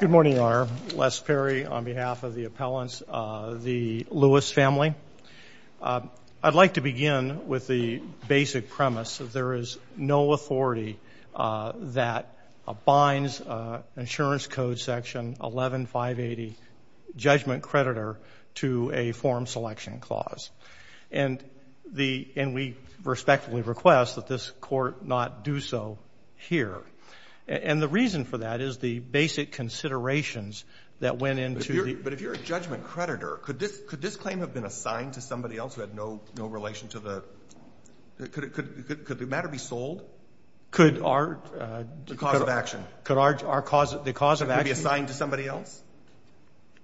Good morning, Your Honor. Les Perry on behalf of the appellants, the Lewis family. I'd like to begin with the basic premise that there is no authority that binds insurance code section 11-580, judgment creditor, to a form selection clause. And we respectfully request that this court not do so here. And the reason for that is the basic considerations that went into the ---- Roberts, but if you're a judgment creditor, could this claim have been assigned to somebody else who had no relation to the ---- could the matter be sold? Lamic Could our ---- Roberts, the cause of action. Lamic Could our cause of action ---- Roberts, could it be assigned to somebody else?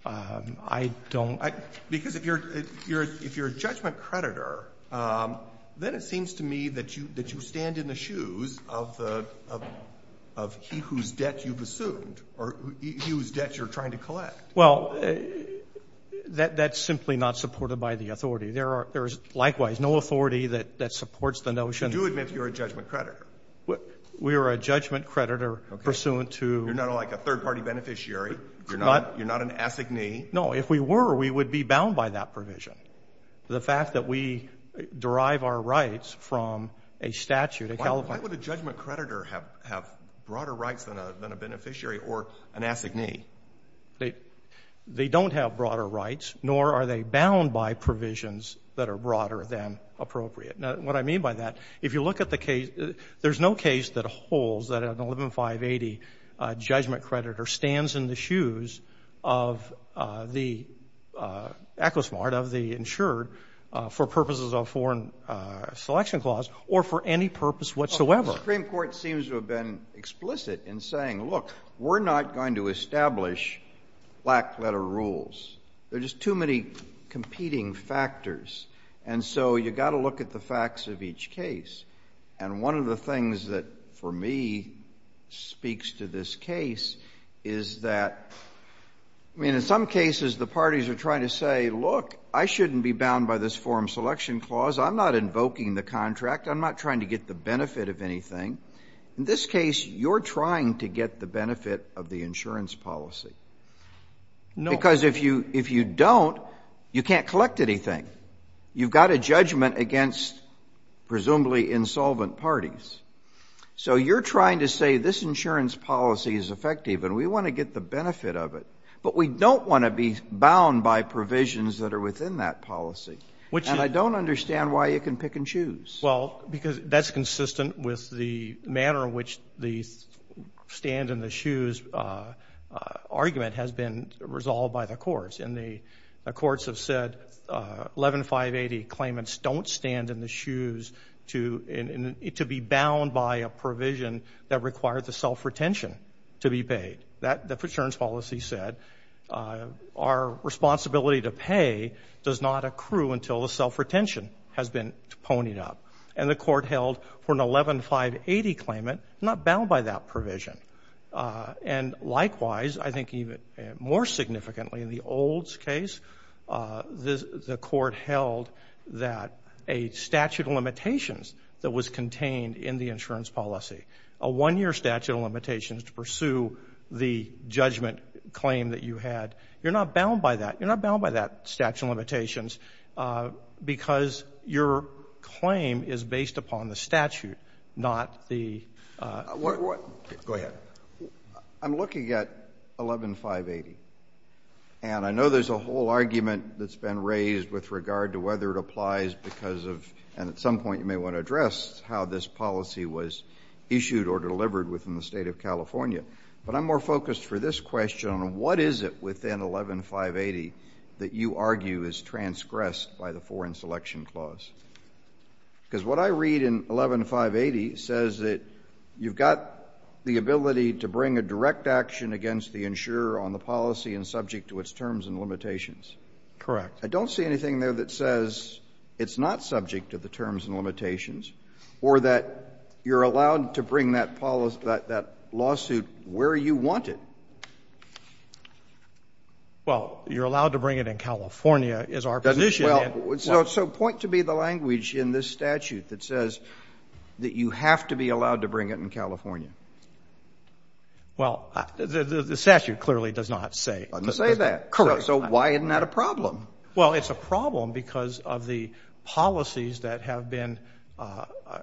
Lamic I don't ---- Roberts, because if you're a judgment creditor, then it seems to me that you stand in the shoes of the ---- of he whose debt you've assumed or he whose debt you're trying to collect. Lamic Well, that's simply not supported by the authority. There are ---- there's likewise no authority that supports the notion ---- Roberts, you do admit you're a judgment creditor. Lamic We are a judgment creditor pursuant to ---- Roberts, you're not like a third-party beneficiary. You're not an assignee. Lamic No, if we were, we would be bound by that provision. The fact that we derive our rights from a statute, a California ---- Roberts, why would a judgment creditor have broader rights than a beneficiary or an assignee? Lamic They don't have broader rights, nor are they bound by provisions that are broader than appropriate. Now, what I mean by that, if you look at the case, there's no case that holds that an 11-580 judgment creditor stands in the shoes of the ECOSMART, of the insured, for purposes of foreign selection clause or for any purpose whatsoever. Kennedy The Supreme Court seems to have been explicit in saying, look, we're not going to establish black-letter rules. There are just too many competing factors. And so you've got to look at the facts of each case. And one of the things that, for me, speaks to this case is that, I mean, in some cases, the parties are trying to say, look, I shouldn't be bound by this foreign selection clause, I'm not invoking the contract, I'm not trying to get the benefit of anything. In this case, you're trying to get the benefit of the insurance policy. Because if you don't, you can't collect anything. You've got a judgment against presumably insolvent parties. So you're trying to say this insurance policy is effective and we want to get the benefit of it. But we don't want to be bound by provisions that are within that policy. And I don't understand why you can pick and choose. Roberts Well, because that's consistent with the manner in which the stand in the shoes argument has been resolved by the courts. And the courts have said 11-580 claimants don't stand in the shoes to be bound by a provision that required the self-retention to be paid. That the insurance policy said, our responsibility to pay does not accrue until the self-retention has been ponied up. And the court held for an 11-580 claimant not bound by that provision. And likewise, I think even more significantly in the Olds case, the court held that a statute of limitations that was contained in the insurance policy, a one-year statute of limitations to pursue the judgment claim that you had, you're not bound by that. You're not bound by that statute of limitations because your claim is based upon the statute, not the- I'm looking at 11-580. And I know there's a whole argument that's been raised with regard to whether it applies because of, and at some point you may want to address how this policy was issued or delivered within the state of California. But I'm more focused for this question on what is it within 11-580 that you argue is transgressed by the Foreign Selection Clause? Because what I read in 11-580 says that you've got the ability to bring a direct action against the insurer on the policy and subject to its terms and limitations. Correct. I don't see anything there that says it's not subject to the terms and limitations or that you're allowed to bring that policy, that lawsuit where you want it. Well, you're allowed to bring it in California is our position. Well, so point to be the language in this statute that says that you have to be allowed to bring it in California. Well, the statute clearly does not say. It doesn't say that. Correct. So why isn't that a problem? Well, it's a problem because of the policies that have been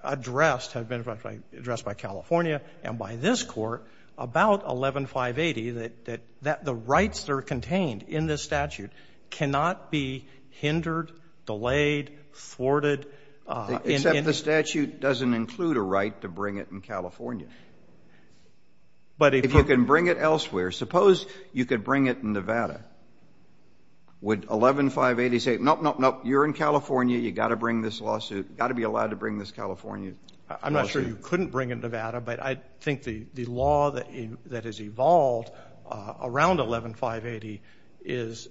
addressed, have been addressed by California and by this Court, about 11-580, that the rights that are delivered, delayed, thwarted in any of these cases. Except the statute doesn't include a right to bring it in California. But if you can bring it elsewhere, suppose you could bring it in Nevada, would 11-580 say, nope, nope, nope, you're in California, you've got to bring this lawsuit, you've got to be allowed to bring this California lawsuit? I'm not sure you couldn't bring it in Nevada, but I think the law that has evolved around 11-580 is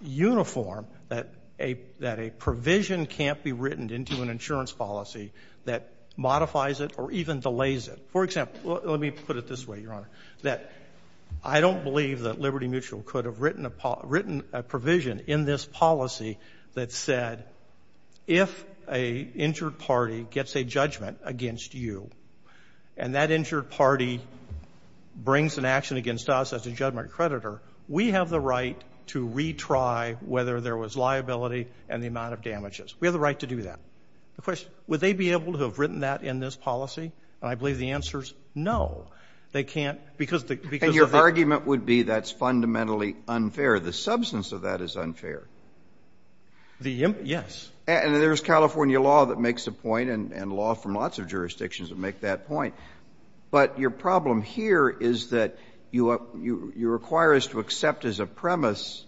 uniform, that a provision can't be written into an insurance policy that modifies it or even delays it. For example, let me put it this way, Your Honor, that I don't believe that Liberty Mutual could have written a provision in this policy that said, if an injured party gets a judgment against you, and that injured party brings an action against us as a judgment creditor, we have the right to retry whether there was liability and the amount of damages. We have the right to do that. The question, would they be able to have written that in this policy? And I believe the answer is, no, they can't, because of the ‑‑ And your argument would be that's fundamentally unfair. The substance of that is unfair. The ‑‑ yes. And there's California law that makes a point, and law from lots of jurisdictions that make that point. But your problem here is that you require us to accept as a premise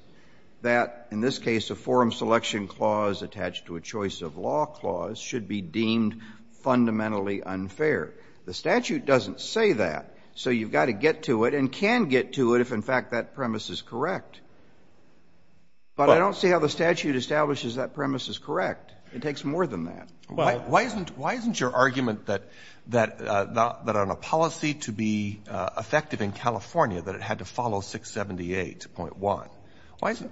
that, in this case, a forum selection clause attached to a choice of law clause should be deemed fundamentally unfair. The statute doesn't say that. So you've got to get to it and can get to it if, in fact, that premise is correct. But I don't see how the statute establishes that premise is correct. It takes more than that. Why isn't your argument that on a policy to be effective in California, that it had to follow 678.1?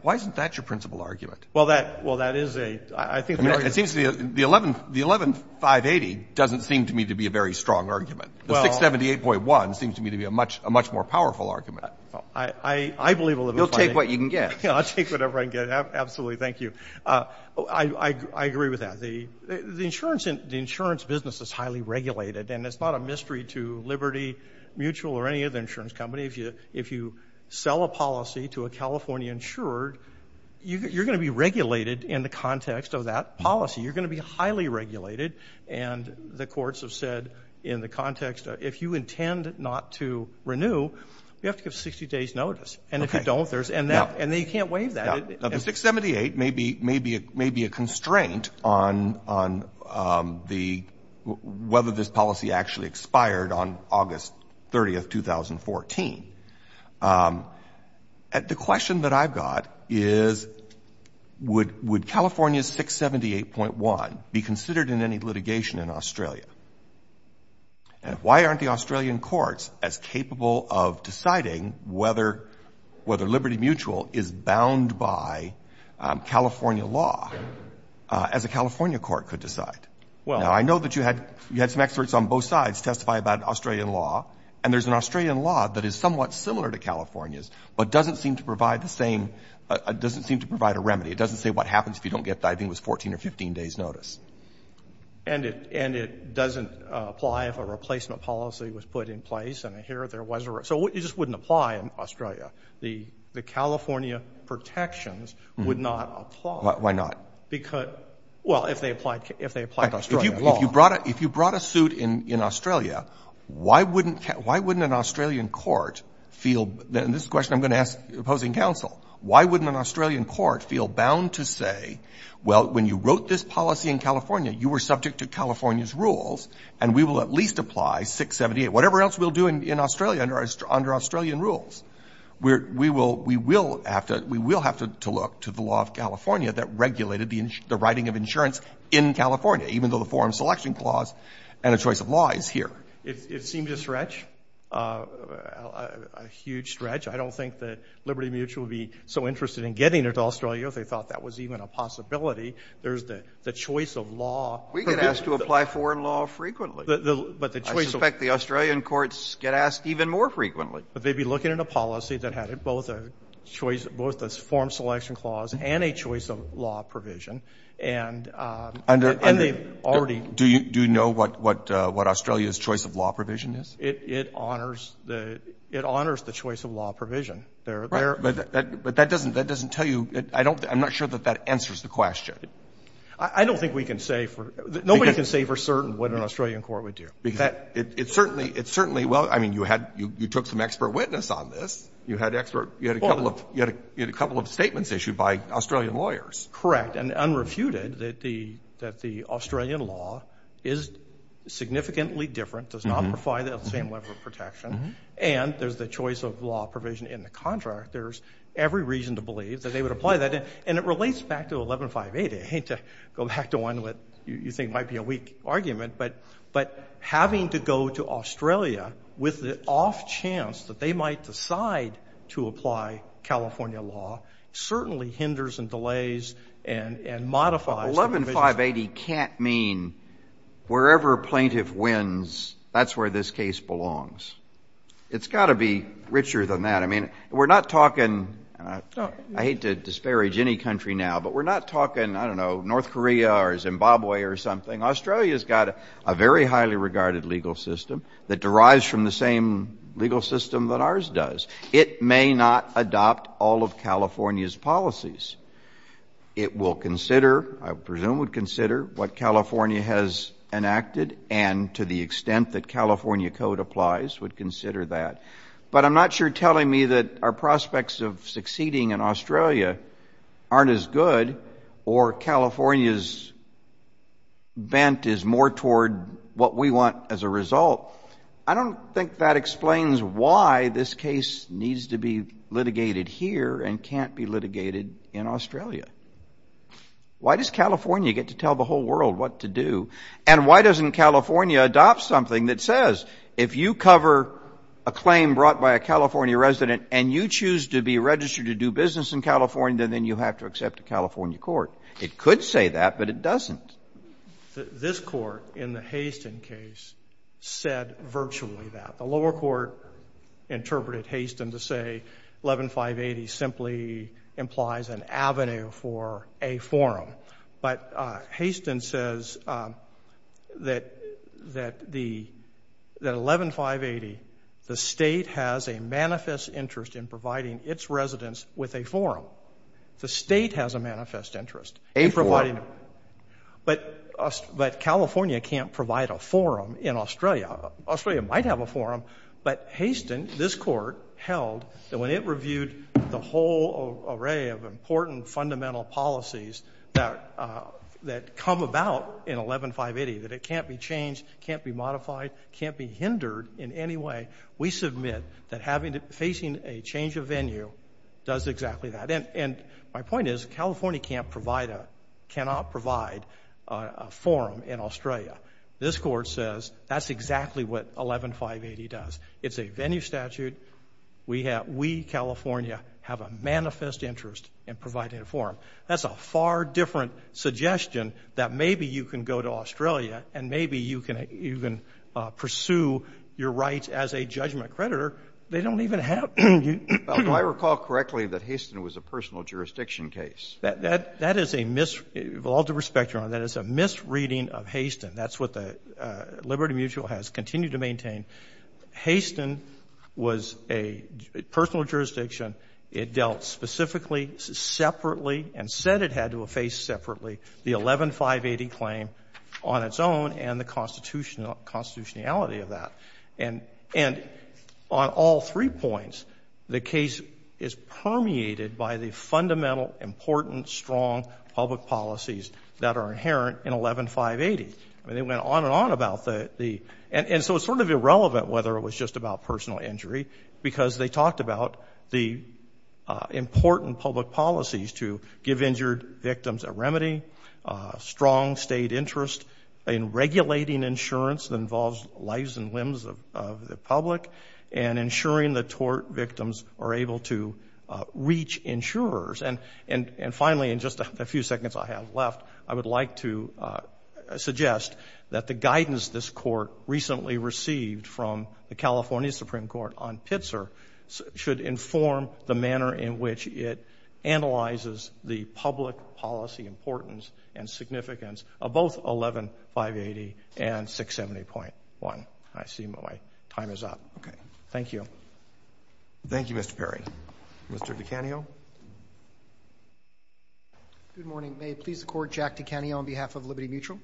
Why isn't that your principal argument? Well, that is a ‑‑ I think the argument ‑‑ It seems to me the 11580 doesn't seem to me to be a very strong argument. The 678.1 seems to me to be a much more powerful argument. I believe 11580. You'll take what you can get. I'll take whatever I can get. Absolutely. Thank you. I agree with that. The insurance business is highly regulated, and it's not a mystery to Liberty Mutual or any other insurance company, if you sell a policy to a California insurer, you're going to be regulated in the context of that policy. You're going to be highly regulated. And the courts have said in the context, if you intend not to renew, you have to give 60 days' notice. And if you don't, there's ‑‑ Okay. Yeah. And they can't waive that. The 678 may be a constraint on the ‑‑ whether this policy actually expired on August 30th, 2014. The question that I've got is would California's 678.1 be considered in any litigation in Australia? And why aren't the Australian courts as capable of deciding whether Liberty Mutual is bound by California law, as a California court could decide? Well ‑‑ Now, I know that you had some experts on both sides testify about Australian law, and there's an Australian law that is somewhat similar to California's, but doesn't seem to provide the same ‑‑ doesn't seem to provide a remedy. It doesn't say what happens if you don't get, I think it was, 14 or 15 days' notice. And it doesn't apply if a replacement policy was put in place. The California protections would not apply. Why not? Because, well, if they applied Australia law. If you brought a suit in Australia, why wouldn't an Australian court feel, and this is a question I'm going to ask opposing counsel, why wouldn't an Australian court feel bound to say, well, when you wrote this policy in California, you were subject to California's rules, and we will at least apply 678, whatever else we'll do in Australia under Australian rules. We will ‑‑ we will have to look to the law of California that regulated the writing of insurance in California, even though the Foreign Selection Clause and a choice of law is here. It seems a stretch, a huge stretch. I don't think that Liberty Mutual would be so interested in getting it to Australia if they thought that was even a possibility. There's the choice of law. We get asked to apply foreign law frequently. But the choice of ‑‑ I suspect the Australian courts get asked even more frequently. But they'd be looking at a policy that had both a choice ‑‑ both a Foreign Selection Clause and a choice of law provision, and they've already ‑‑ Do you know what Australia's choice of law provision is? It honors the choice of law provision. Right. But that doesn't tell you ‑‑ I'm not sure that that answers the question. I don't think we can say for ‑‑ nobody can say for certain what an Australian court would do. It certainly ‑‑ well, I mean, you took some expert witness on this. You had a couple of statements issued by Australian lawyers. Correct. And unrefuted that the Australian law is significantly different, does not provide the same level of protection. And there's the choice of law provision in the contract. There's every reason to believe that they would apply that. And it relates back to 1158. I hate to go back to one that you think might be a weak argument, but having to go to Australia with the off chance that they might decide to apply California law certainly hinders and delays and modifies the provision. But 1158, he can't mean wherever plaintiff wins, that's where this case belongs. It's got to be richer than that. I mean, we're not talking ‑‑ I hate to disparage any country now, but we're not talking, I don't know, North Korea or Zimbabwe or something. Australia's got a very highly regarded legal system that derives from the same legal system that ours does. It may not adopt all of California's policies. It will consider, I presume would consider what California has enacted and to the extent that California code applies would consider that. But I'm not sure telling me that our prospects of succeeding in Australia aren't as good or California's bent is more toward what we want as a result. I don't think that explains why this case needs to be litigated here and can't be litigated in Australia. Why does California get to tell the whole world what to do? And why doesn't California adopt something that says if you cover a claim brought by a California resident and you choose to be registered to do business in California, then you have to accept a California court? It could say that, but it doesn't. This Court in the Hastin case said virtually that. The lower court interpreted Hastin to say 1158, he simply implies an avenue for a forum. But Hastin says that the 11580, the State has a manifest interest in providing its residents with a forum. The State has a manifest interest in providing a forum. But California can't provide a forum in Australia. Australia might have a forum, but Hastin, this Court, held that when it reviewed the whole array of important fundamental policies that come about in 11580, that it can't be changed, can't be modified, can't be hindered in any way. We submit that facing a change of venue does exactly that. And my point is California cannot provide a forum in Australia. This Court says that's exactly what 11580 does. It's a venue statute. We have we, California, have a manifest interest in providing a forum. That's a far different suggestion that maybe you can go to Australia and maybe you can even pursue your rights as a judgment creditor. They don't even have you. Well, do I recall correctly that Hastin was a personal jurisdiction case? That is a misreading. With all due respect, Your Honor, that is a misreading of Hastin. That's what the Liberty Mutual has continued to maintain. Hastin was a personal jurisdiction. It dealt specifically, separately, and said it had to face separately the 11580 claim on its own and the constitutionality of that. And on all three points, the case is permeated by the fundamental, important, strong public policies that are inherent in 11580. I mean, they went on and on about the – and so it's sort of irrelevant whether it was just about personal injury, because they talked about the important public policies to give injured victims a remedy, strong state interest in regulating insurance that involves lives and limbs of the public, and ensuring that tort victims are able to reach insurers. And finally, in just a few seconds I have left, I would like to suggest that the guidance this Court recently received from the California Supreme Court on Pitzer should inform the manner in which it analyzes the public policy importance and significance of both 11580 and 670.1. I see my time is up. Okay. Thank you. Thank you, Mr. Perry. Mr. Dicanio. Good morning. May it please the Court. Jack Dicanio on behalf of Liberty Mutual.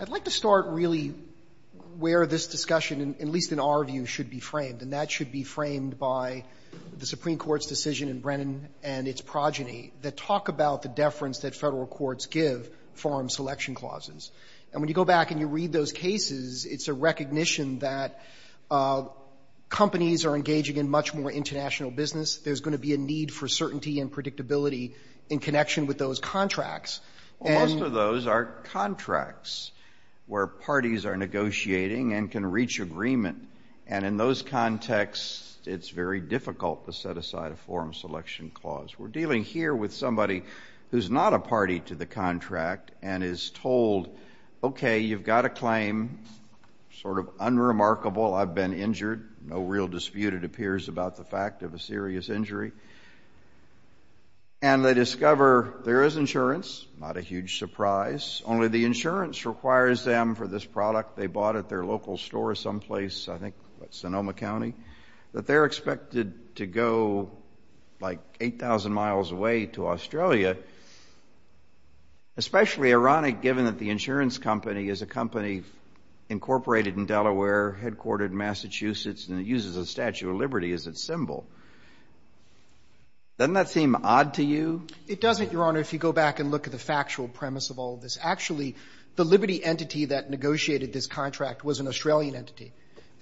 I'd like to start really where this discussion, at least in our view, should be framed, and that should be framed by the Supreme Court's decision in Brennan and its progeny that talk about the deference that Federal courts give Foreign companies are engaging in much more international business. There's going to be a need for certainty and predictability in connection with those contracts. And most of those are contracts where parties are negotiating and can reach agreement. And in those contexts, it's very difficult to set aside a forum selection clause. We're dealing here with somebody who's not a party to the contract and is told, okay, you've got a claim, sort of unremarkable. I've been injured. No real dispute, it appears, about the fact of a serious injury. And they discover there is insurance, not a huge surprise. Only the insurance requires them for this product they bought at their local store someplace, I think, what, Sonoma County, that they're expected to go like 8,000 miles away to Australia, especially ironic given that the insurance company is a and it uses a Statue of Liberty as its symbol. Doesn't that seem odd to you? It doesn't, Your Honor, if you go back and look at the factual premise of all of this. Actually, the Liberty entity that negotiated this contract was an Australian entity,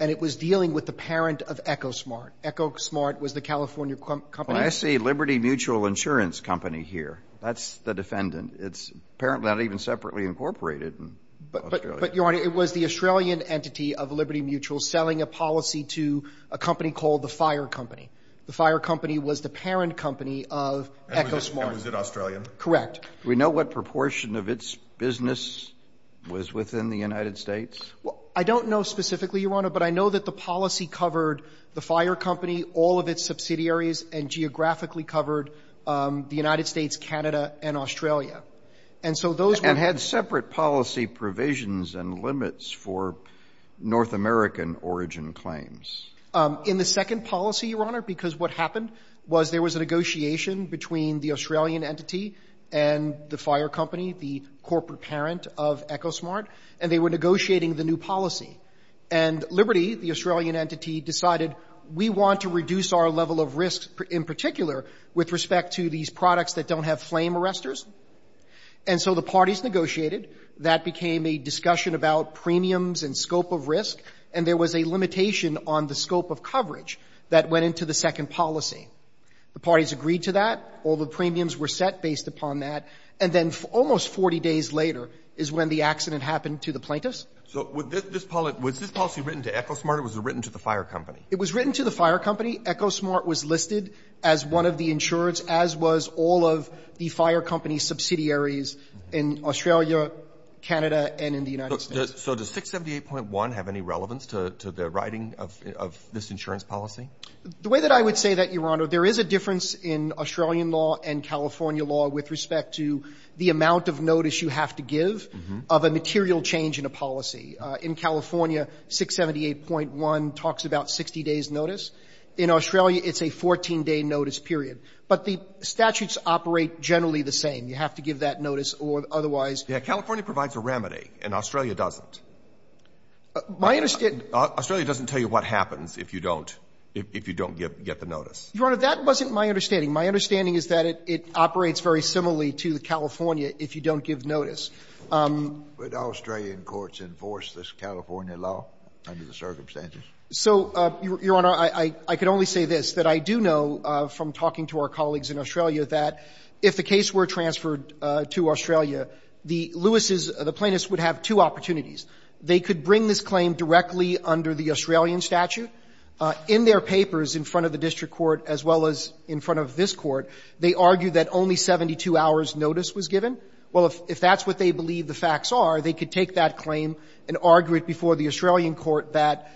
and it was dealing with the parent of Ecosmart. Ecosmart was the California company. Well, I see Liberty Mutual Insurance Company here. That's the defendant. It's apparently not even separately incorporated in Australia. But, Your Honor, it was the Australian entity of Liberty Mutual selling a policy to a company called the Fire Company. The Fire Company was the parent company of Ecosmart. And was it Australian? Correct. Do we know what proportion of its business was within the United States? I don't know specifically, Your Honor, but I know that the policy covered the Fire Company, all of its subsidiaries, and geographically covered the United States, Canada, and Australia. And so those were And had separate policy provisions and limits for North American origin claims. In the second policy, Your Honor, because what happened was there was a negotiation between the Australian entity and the Fire Company, the corporate parent of Ecosmart, and they were negotiating the new policy. And Liberty, the Australian entity, decided we want to reduce our level of risk in particular with respect to these products that don't have flame arrestors. And so the parties negotiated. That became a discussion about premiums and scope of risk. And there was a limitation on the scope of coverage that went into the second policy. The parties agreed to that. All the premiums were set based upon that. And then almost 40 days later is when the accident happened to the plaintiffs. So was this policy written to Ecosmart or was it written to the Fire Company? It was written to the Fire Company. Ecosmart was listed as one of the insurers, as was all of the Fire Company subsidiaries in Australia, Canada, and in the United States. So does 678.1 have any relevance to the writing of this insurance policy? The way that I would say that, Your Honor, there is a difference in Australian law and California law with respect to the amount of notice you have to give of a material change in a policy. In California, 678.1 talks about 60 days' notice. In Australia, it's a 14-day notice period. But the statutes operate generally the same. You have to give that notice or otherwise. Yeah. California provides a remedy and Australia doesn't. My understanding is that it operates very similarly to California if you don't give notice. Would Australian courts enforce this California law under the circumstances? So, Your Honor, I could only say this, that I do know from talking to our colleagues in Australia that if the case were transferred to Australia, the Lewises, the plaintiffs would have two opportunities. They could bring this claim directly under the Australian statute. In their papers in front of the district court as well as in front of this court, they argue that only 72 hours' notice was given. Well, if that's what they believe the facts are, they could take that claim and argue it before the Australian court that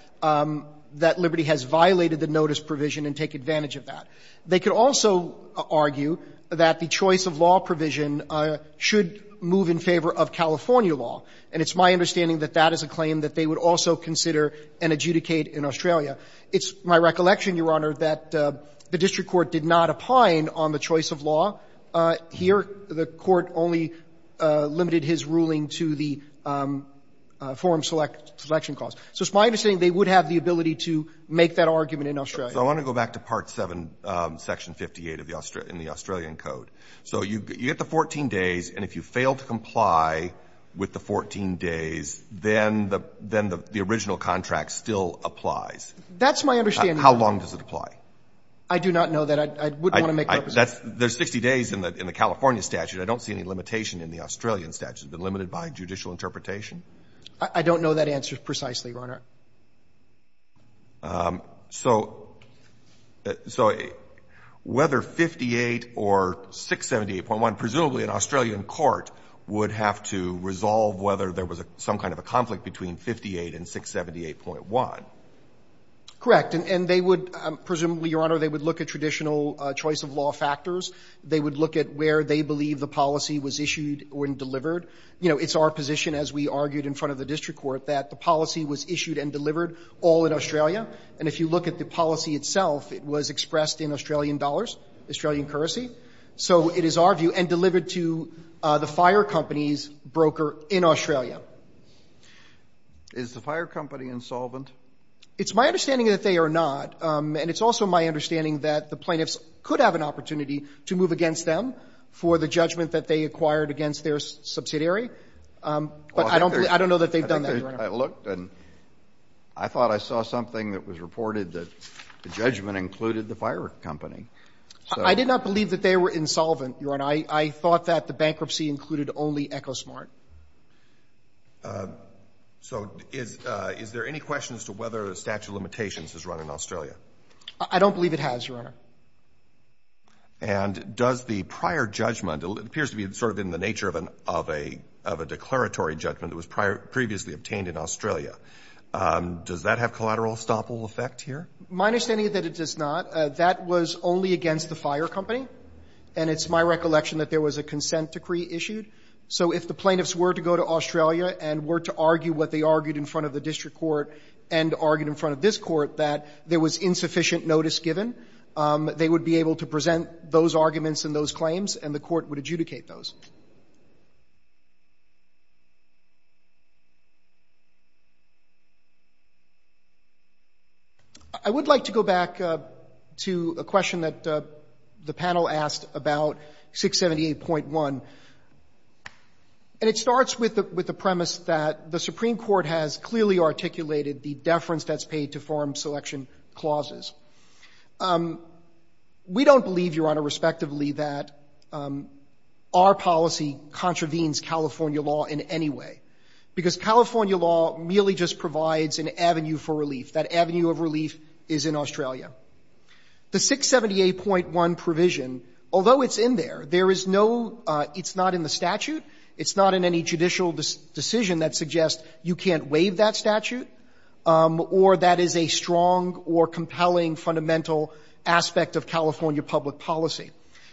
Liberty has violated the notice provision and take advantage of that. They could also argue that the choice of law provision should move in favor of California law. And it's my understanding that that is a claim that they would also consider and adjudicate in Australia. It's my recollection, Your Honor, that the district court did not opine on the choice of law. Here, the Court only limited his ruling to the forum selection clause. So it's my understanding they would have the ability to make that argument in Australia. So I want to go back to Part VII, Section 58 of the Australian code. So you get the 14 days, and if you fail to comply with the 14 days, then the original contract still applies. That's my understanding. How long does it apply? I do not know that. I wouldn't want to make representations. That's the 60 days in the California statute. I don't see any limitation in the Australian statute. It's been limited by judicial interpretation. I don't know that answer precisely, Your Honor. So whether 58 or 678.1, presumably an Australian court would have to resolve whether there was some kind of a conflict between 58 and 678.1. Correct. And they would, presumably, Your Honor, they would look at traditional choice of law factors. They would look at where they believe the policy was issued or delivered. You know, it's our position, as we argued in front of the district court, that the policy was issued and delivered all in Australia. And if you look at the policy itself, it was expressed in Australian dollars, Australian currency. So it is our view, and delivered to the fire company's broker in Australia. Is the fire company insolvent? It's my understanding that they are not. And it's also my understanding that the plaintiffs could have an opportunity to move against them for the judgment that they acquired against their subsidiary. But I don't believe they've done that, Your Honor. I looked and I thought I saw something that was reported that the judgment included the fire company. I did not believe that they were insolvent, Your Honor. I thought that the bankruptcy included only Ecosmart. So is there any question as to whether the statute of limitations is run in Australia? I don't believe it has, Your Honor. And does the prior judgment, it appears to be sort of in the nature of a declaratory judgment that was previously obtained in Australia, does that have collateral estoppel effect here? My understanding is that it does not. That was only against the fire company. And it's my recollection that there was a consent decree issued. So if the plaintiffs were to go to Australia and were to argue what they argued in front of the district court and argued in front of this court that there was insufficient notice given, they would be able to present those arguments and those claims and the court would adjudicate those. I would like to go back to a question that the panel asked about 678.1. And it starts with the premise that the Supreme Court has clearly articulated the deference that's paid to foreign selection clauses. We don't believe, Your Honor, respectively, that our policy contravenes California law in any way, because California law merely just provides an avenue for relief. That avenue of relief is in Australia. The 678.1 provision, although it's in there, there is no – it's not in the statute. It's not in any judicial decision that suggests you can't waive that statute or that is a strong or compelling fundamental aspect of California public policy.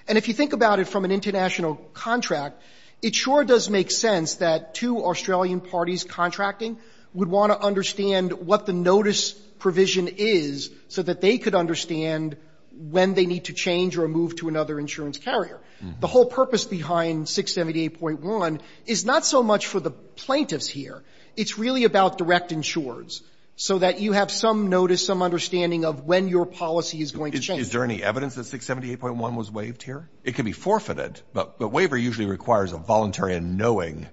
And if you think about it from an international contract, it sure does make sense that two Australian parties contracting would want to understand what the notice provision is so that they could understand when they need to change or move to another insurance carrier. The whole purpose behind 678.1 is not so much for the plaintiffs here. It's really about direct insurers, so that you have some notice, some understanding of when your policy is going to change. Is there any evidence that 678.1 was waived here? It can be forfeited, but waiver usually requires a voluntary unknowing.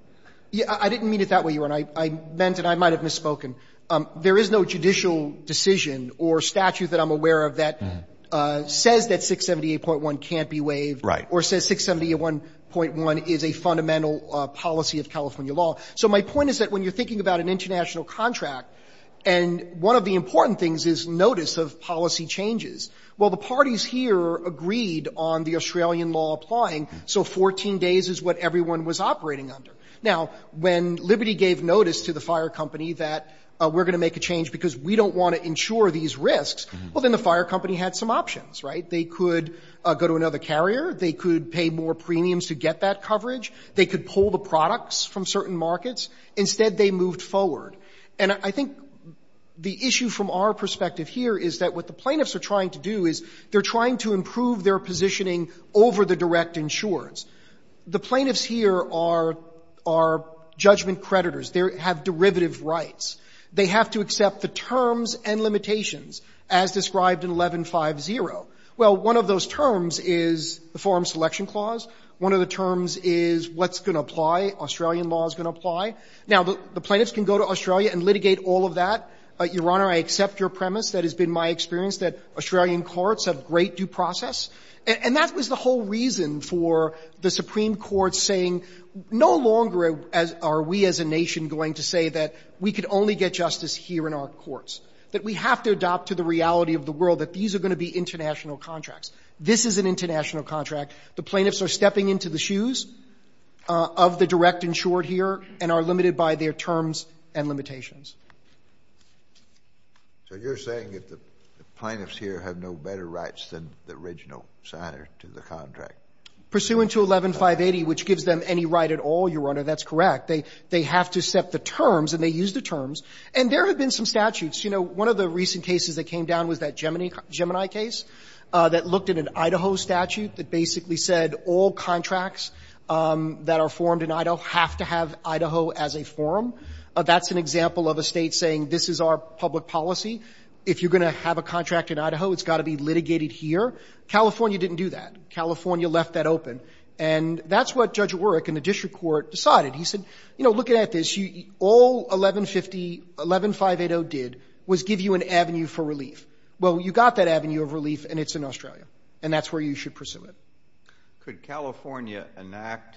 I didn't mean it that way, Your Honor. I meant it. I might have misspoken. There is no judicial decision or statute that I'm aware of that says that 678.1 can't be waived or says 678.1 is a fundamental policy of California law. So my point is that when you're thinking about an international contract, and one of the important things is notice of policy changes, well, the parties here agreed on the Australian law applying, so 14 days is what everyone was operating under. Now, when Liberty gave notice to the fire company that we're going to make a change because we don't want to insure these risks, well, then the fire company had some options, right? They could go to another carrier. They could pay more premiums to get that coverage. They could pull the products from certain markets. Instead, they moved forward. And I think the issue from our perspective here is that what the plaintiffs are trying to do is they're trying to improve their positioning over the direct insurers. The plaintiffs here are judgment creditors. They have derivative rights. They have to accept the terms and limitations as described in 1150. Well, one of those terms is the forum selection clause. One of the terms is what's going to apply, Australian law is going to apply. Now, the plaintiffs can go to Australia and litigate all of that. Your Honor, I accept your premise. That has been my experience, that Australian courts have great due process. And that was the whole reason for the Supreme Court saying no longer are we as a nation going to say that we could only get justice here in our courts, that we have to adopt to the reality of the world that these are going to be international contracts. This is an international contract. The plaintiffs are stepping into the shoes of the direct insured here and are limited by their terms and limitations. So you're saying that the plaintiffs here have no better rights than the original signer to the contract? Pursuant to 11580, which gives them any right at all, Your Honor, that's correct. They have to set the terms and they use the terms. And there have been some statutes. You know, one of the recent cases that came down was that Gemini case that looked at an Idaho statute that basically said all contracts that are formed in Idaho have to have Idaho as a forum. That's an example of a state saying this is our public policy. If you're going to have a contract in Idaho, it's got to be litigated here. California didn't do that. California left that open. And that's what Judge Warrick in the district court decided. He said, you know, looking at this, all 1150, 11580 did was give you an avenue for relief. Well, you got that avenue of relief and it's in Australia. And that's where you should pursue it. Could California enact,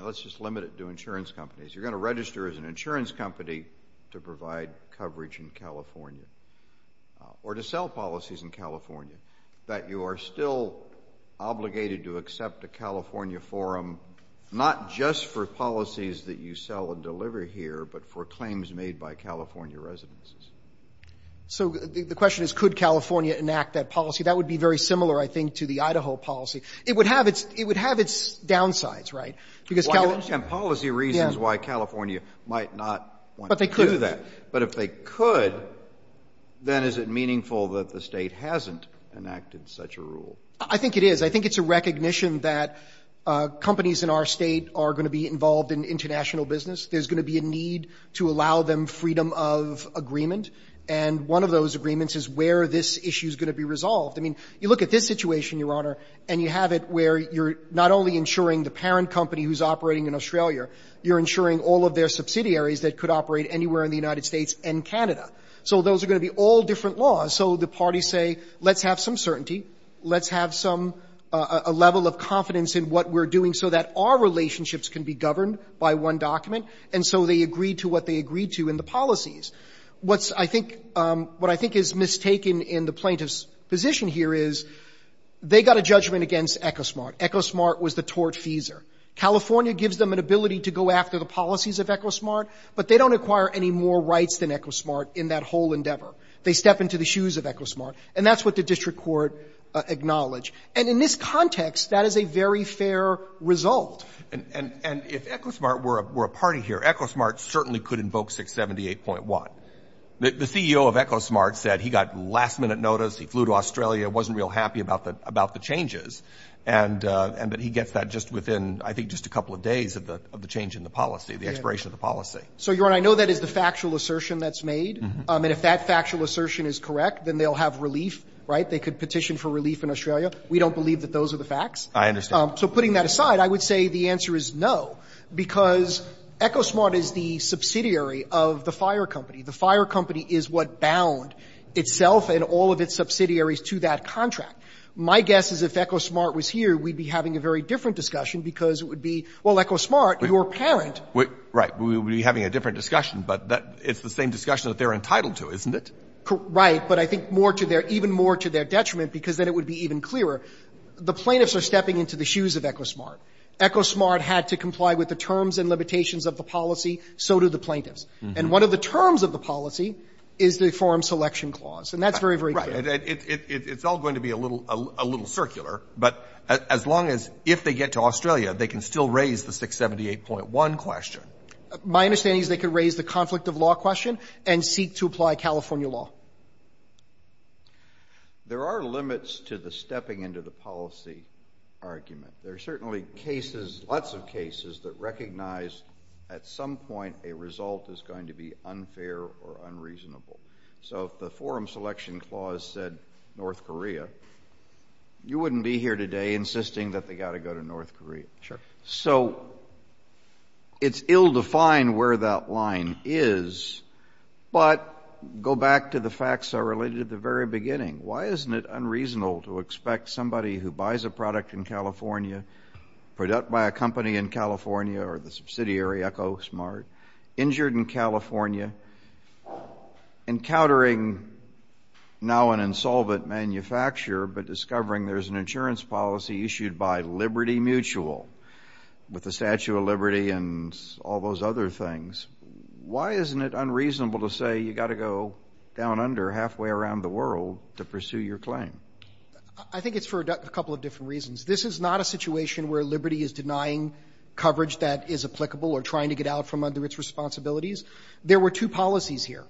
let's just limit it to insurance companies. You're going to register as an insurance company to provide coverage in California or to sell policies in California that you are still obligated to accept a California forum, not just for policies that you sell and deliver here, but for claims made by California residences. So the question is, could California enact that policy? That would be very similar, I think, to the Idaho policy. It would have its downsides, right? I understand policy reasons why California might not want to do that. But if they could, then is it meaningful that the State hasn't enacted such a rule? I think it is. I think it's a recognition that companies in our State are going to be involved in international business. There's going to be a need to allow them freedom of agreement. And one of those agreements is where this issue is going to be resolved. I mean, you look at this situation, Your Honor, and you have it where you're not only insuring the parent company who's operating in Australia, you're insuring all of their subsidiaries that could operate anywhere in the United States and Canada. So those are going to be all different laws. So the parties say, let's have some certainty. Let's have some – a level of confidence in what we're doing so that our relationships can be governed by one document. And so they agree to what they agreed to in the policies. What's – I think – what I think is mistaken in the plaintiff's position here is they got a judgment against Ecosmart. Ecosmart was the tortfeasor. California gives them an ability to go after the policies of Ecosmart, but they don't acquire any more rights than Ecosmart in that whole endeavor. They step into the shoes of Ecosmart. And that's what the district court acknowledged. And in this context, that is a very fair result. And if Ecosmart were a party here, Ecosmart certainly could invoke 678.1. The CEO of Ecosmart said he got last-minute notice. He flew to Australia, wasn't real happy about the changes. And – but he gets that just within, I think, just a couple of days of the change in the policy, the expiration of the policy. So, Your Honor, I know that is the factual assertion that's made. And if that factual assertion is correct, then they'll have relief, right? They could petition for relief in Australia. We don't believe that those are the facts. I understand. So putting that aside, I would say the answer is no, because Ecosmart is the subsidiary of the fire company. The fire company is what bound itself and all of its subsidiaries to that contract. My guess is if Ecosmart was here, we'd be having a very different discussion, because it would be, well, Ecosmart, your parent – Right. We would be having a different discussion. But that – it's the same discussion that they're entitled to, isn't it? Right. But I think more to their – even more to their detriment, because then it would be even clearer. The plaintiffs are stepping into the shoes of Ecosmart. Ecosmart had to comply with the terms and limitations of the policy. So do the plaintiffs. And one of the terms of the policy is the Foreign Selection Clause. And that's very, very clear. Right. And it's all going to be a little – a little circular. But as long as – if they get to Australia, they can still raise the 678.1 question. My understanding is they could raise the conflict of law question and seek to apply California law. There are limits to the stepping into the policy argument. There are certainly cases – lots of cases that recognize at some point a result is going to be unfair or unreasonable. So if the Foreign Selection Clause said North Korea, you wouldn't be here today insisting that they got to go to North Korea. So it's ill-defined where that line is. But go back to the facts that are related at the very beginning. Why isn't it unreasonable to expect somebody who buys a product in California, a product by a company in California or the subsidiary Ecosmart, injured in California, encountering now an insolvent manufacturer, but discovering there's an insurance policy issued by Liberty Mutual with the Statue of Liberty and all those other things, why isn't it unreasonable to say you got to go down under halfway around the world to pursue your claim? I think it's for a couple of different reasons. This is not a situation where Liberty is denying coverage that is applicable or trying to get out from under its responsibilities. There were two policies here.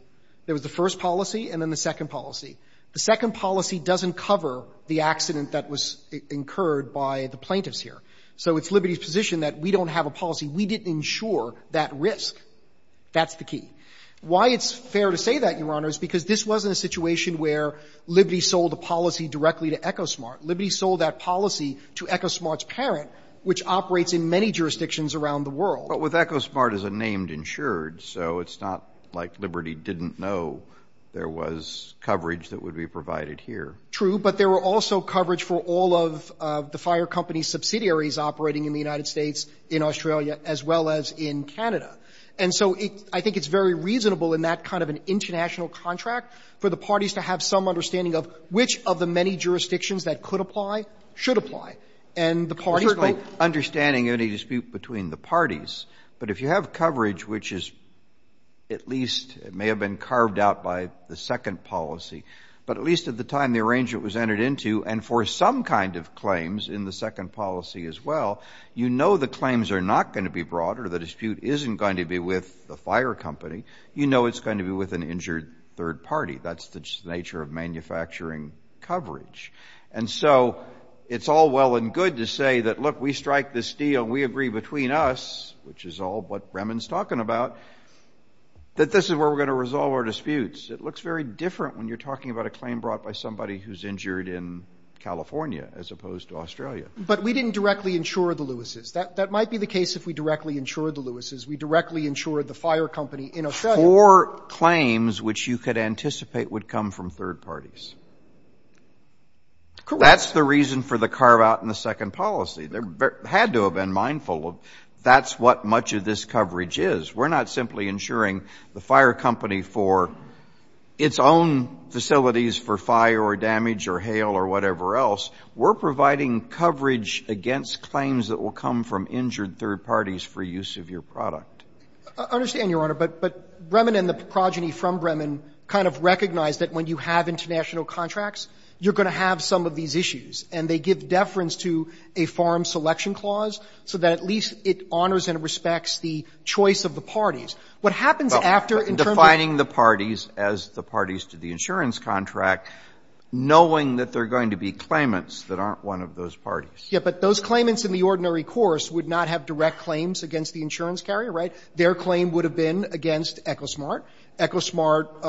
There was the first policy and then the second policy. The second policy doesn't cover the accident that was incurred by the plaintiffs here. So it's Liberty's position that we don't have a policy. We didn't insure that risk. That's the key. Why it's fair to say that, Your Honor, is because this wasn't a situation where Liberty sold a policy directly to Ecosmart. Liberty sold that policy to Ecosmart's parent, which operates in many jurisdictions around the world. But with Ecosmart as a named insured, so it's not like Liberty didn't know there was coverage that would be provided here. True. But there were also coverage for all of the fire company subsidiaries operating in the United States, in Australia, as well as in Canada. And so I think it's very reasonable in that kind of an international contract for the parties to have some understanding of which of the many jurisdictions that could apply, should apply. And the parties will be able to decide whether or not they want to cover it. It's certainly understanding any dispute between the parties, but if you have coverage which is at least, it may have been carved out by the second policy, but at least at the time the arrangement was entered into, and for some kind of claims in the second policy as well, you know the claims are not going to be brought or the dispute isn't going to be with the fire company. You know it's going to be with an injured third party. That's the nature of manufacturing coverage. And so it's all well and good to say that, look, we strike this deal, we agree between us, which is all what Bremen's talking about, that this is where we're going to resolve our disputes. It looks very different when you're talking about a claim brought by somebody who's injured in California as opposed to Australia. But we didn't directly insure the Lewises. That might be the case if we directly insured the Lewises, we directly insured the fire company in Australia. For claims which you could anticipate would come from third parties. That's the reason for the carve-out in the second policy. They had to have been mindful of that's what much of this coverage is. We're not simply insuring the fire company for its own facilities for fire or damage or hail or whatever else. We're providing coverage against claims that will come from injured third parties for use of your product. I understand, Your Honor, but Bremen and the progeny from Bremen kind of recognize that when you have international contracts, you're going to have some of these issues. And they give deference to a farm selection clause so that at least it honors and respects the choice of the parties. What happens after in terms of the parties to the insurance contract, knowing that they're going to be claimants that aren't one of those parties? Yeah, but those claimants in the ordinary course would not have direct claims against the insurance carrier, right? Their claim would have been against Ecosmart. Ecosmart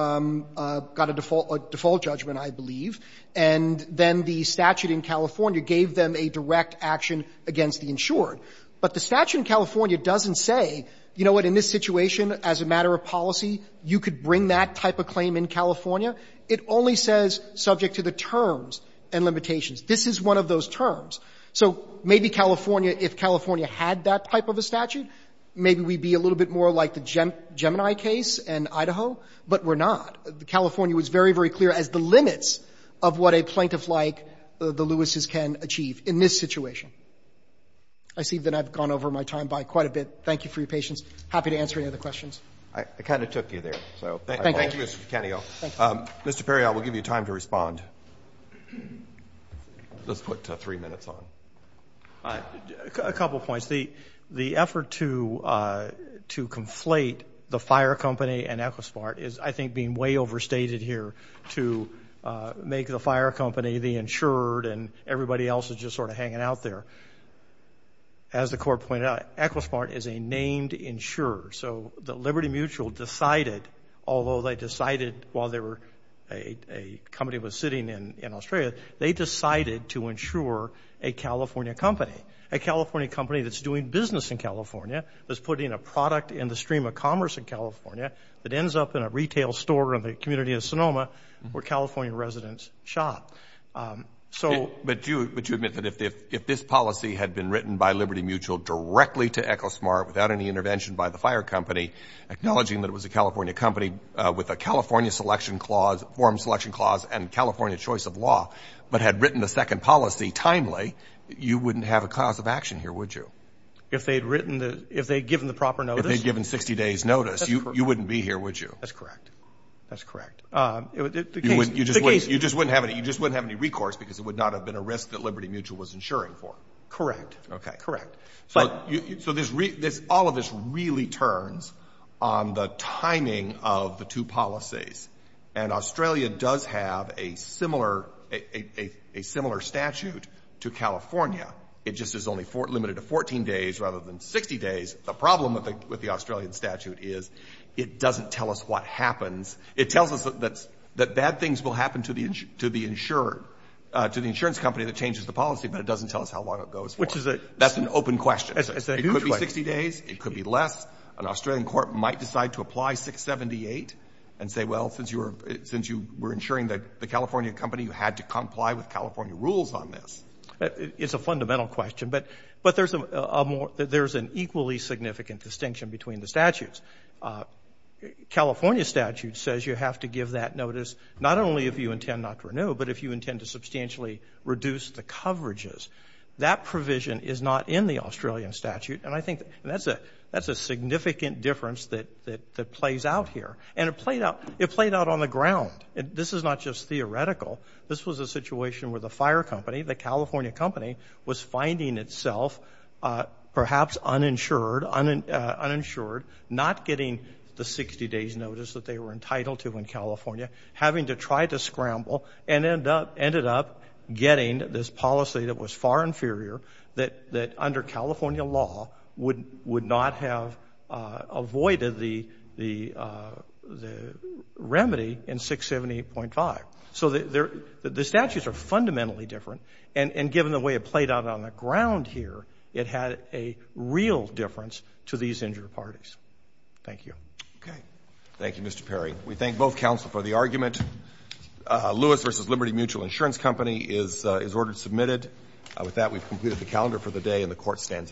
got a default judgment, I believe. And then the statute in California gave them a direct action against the insured. But the statute in California doesn't say, you know what, in this situation as a matter of policy, you could bring that type of claim in California. It only says subject to the terms and limitations. This is one of those terms. So maybe California, if California had that type of a statute, maybe we'd be a little bit more like the Gemini case in Idaho, but we're not. California was very, very clear as the limits of what a plaintiff like the Lewises can achieve in this situation. I see that I've gone over my time by quite a bit. Thank you for your patience. Happy to answer any other questions. I kind of took you there. Thank you, Mr. Picanio. Mr. Perry, I will give you time to respond. Let's put three minutes on. A couple of points. The effort to conflate the fire company and Ecosmart is, I think, being way overstated here to make the fire company the insured and everybody else is just sort of hanging out there. As the court pointed out, Ecosmart is a named insurer. So Liberty Mutual decided, although they decided while a company was sitting in Australia, they decided to insure a California company, a California company that's doing business in California, that's putting a product in the stream of commerce in California that ends up in a retail store in the community of Sonoma where California residents shop. But do you admit that if this policy had been written by Liberty Mutual directly to Ecosmart without any intervention by the fire company, acknowledging that it was a California company with a California selection clause, form selection clause, and California choice of law, but had written a second policy timely, you wouldn't have a cause of action here, would you? If they'd written the, if they'd given the proper notice? If they'd given 60 days notice, you wouldn't be here, would you? That's correct. That's correct. You just wouldn't have any recourse because it would not have been a risk that Liberty Mutual was insuring for. Correct. Okay. Correct. Okay. So this, all of this really turns on the timing of the two policies. And Australia does have a similar statute to California. It just is only limited to 14 days rather than 60 days. The problem with the Australian statute is it doesn't tell us what happens. It tells us that bad things will happen to the insurer, to the insurance company that changes the policy, but it doesn't tell us how long it goes for. Which is a... It's a new question. It could be 60 days. It could be less. An Australian court might decide to apply 678 and say, well, since you were insuring the California company, you had to comply with California rules on this. It's a fundamental question. But there's a more, there's an equally significant distinction between the statutes. California statute says you have to give that notice not only if you intend not to renew, but if you intend to substantially reduce the coverages. That provision is not in the Australian statute. And I think that's a significant difference that plays out here. And it played out on the ground. This is not just theoretical. This was a situation where the fire company, the California company, was finding itself perhaps uninsured, not getting the 60 days notice that they were entitled to in California, having to try to scramble, and ended up getting this policy that was far inferior, that under California law would not have avoided the remedy in 678.5. So the statutes are fundamentally different. And given the way it played out on the ground here, it had a real difference to these injured parties. Thank you. Okay. Thank you, Mr. Perry. We thank both counsel for the argument. Lewis v. Liberty Mutual Insurance Company is ordered submitted. With that, we've completed the calendar for the day, and the court stands adjourned.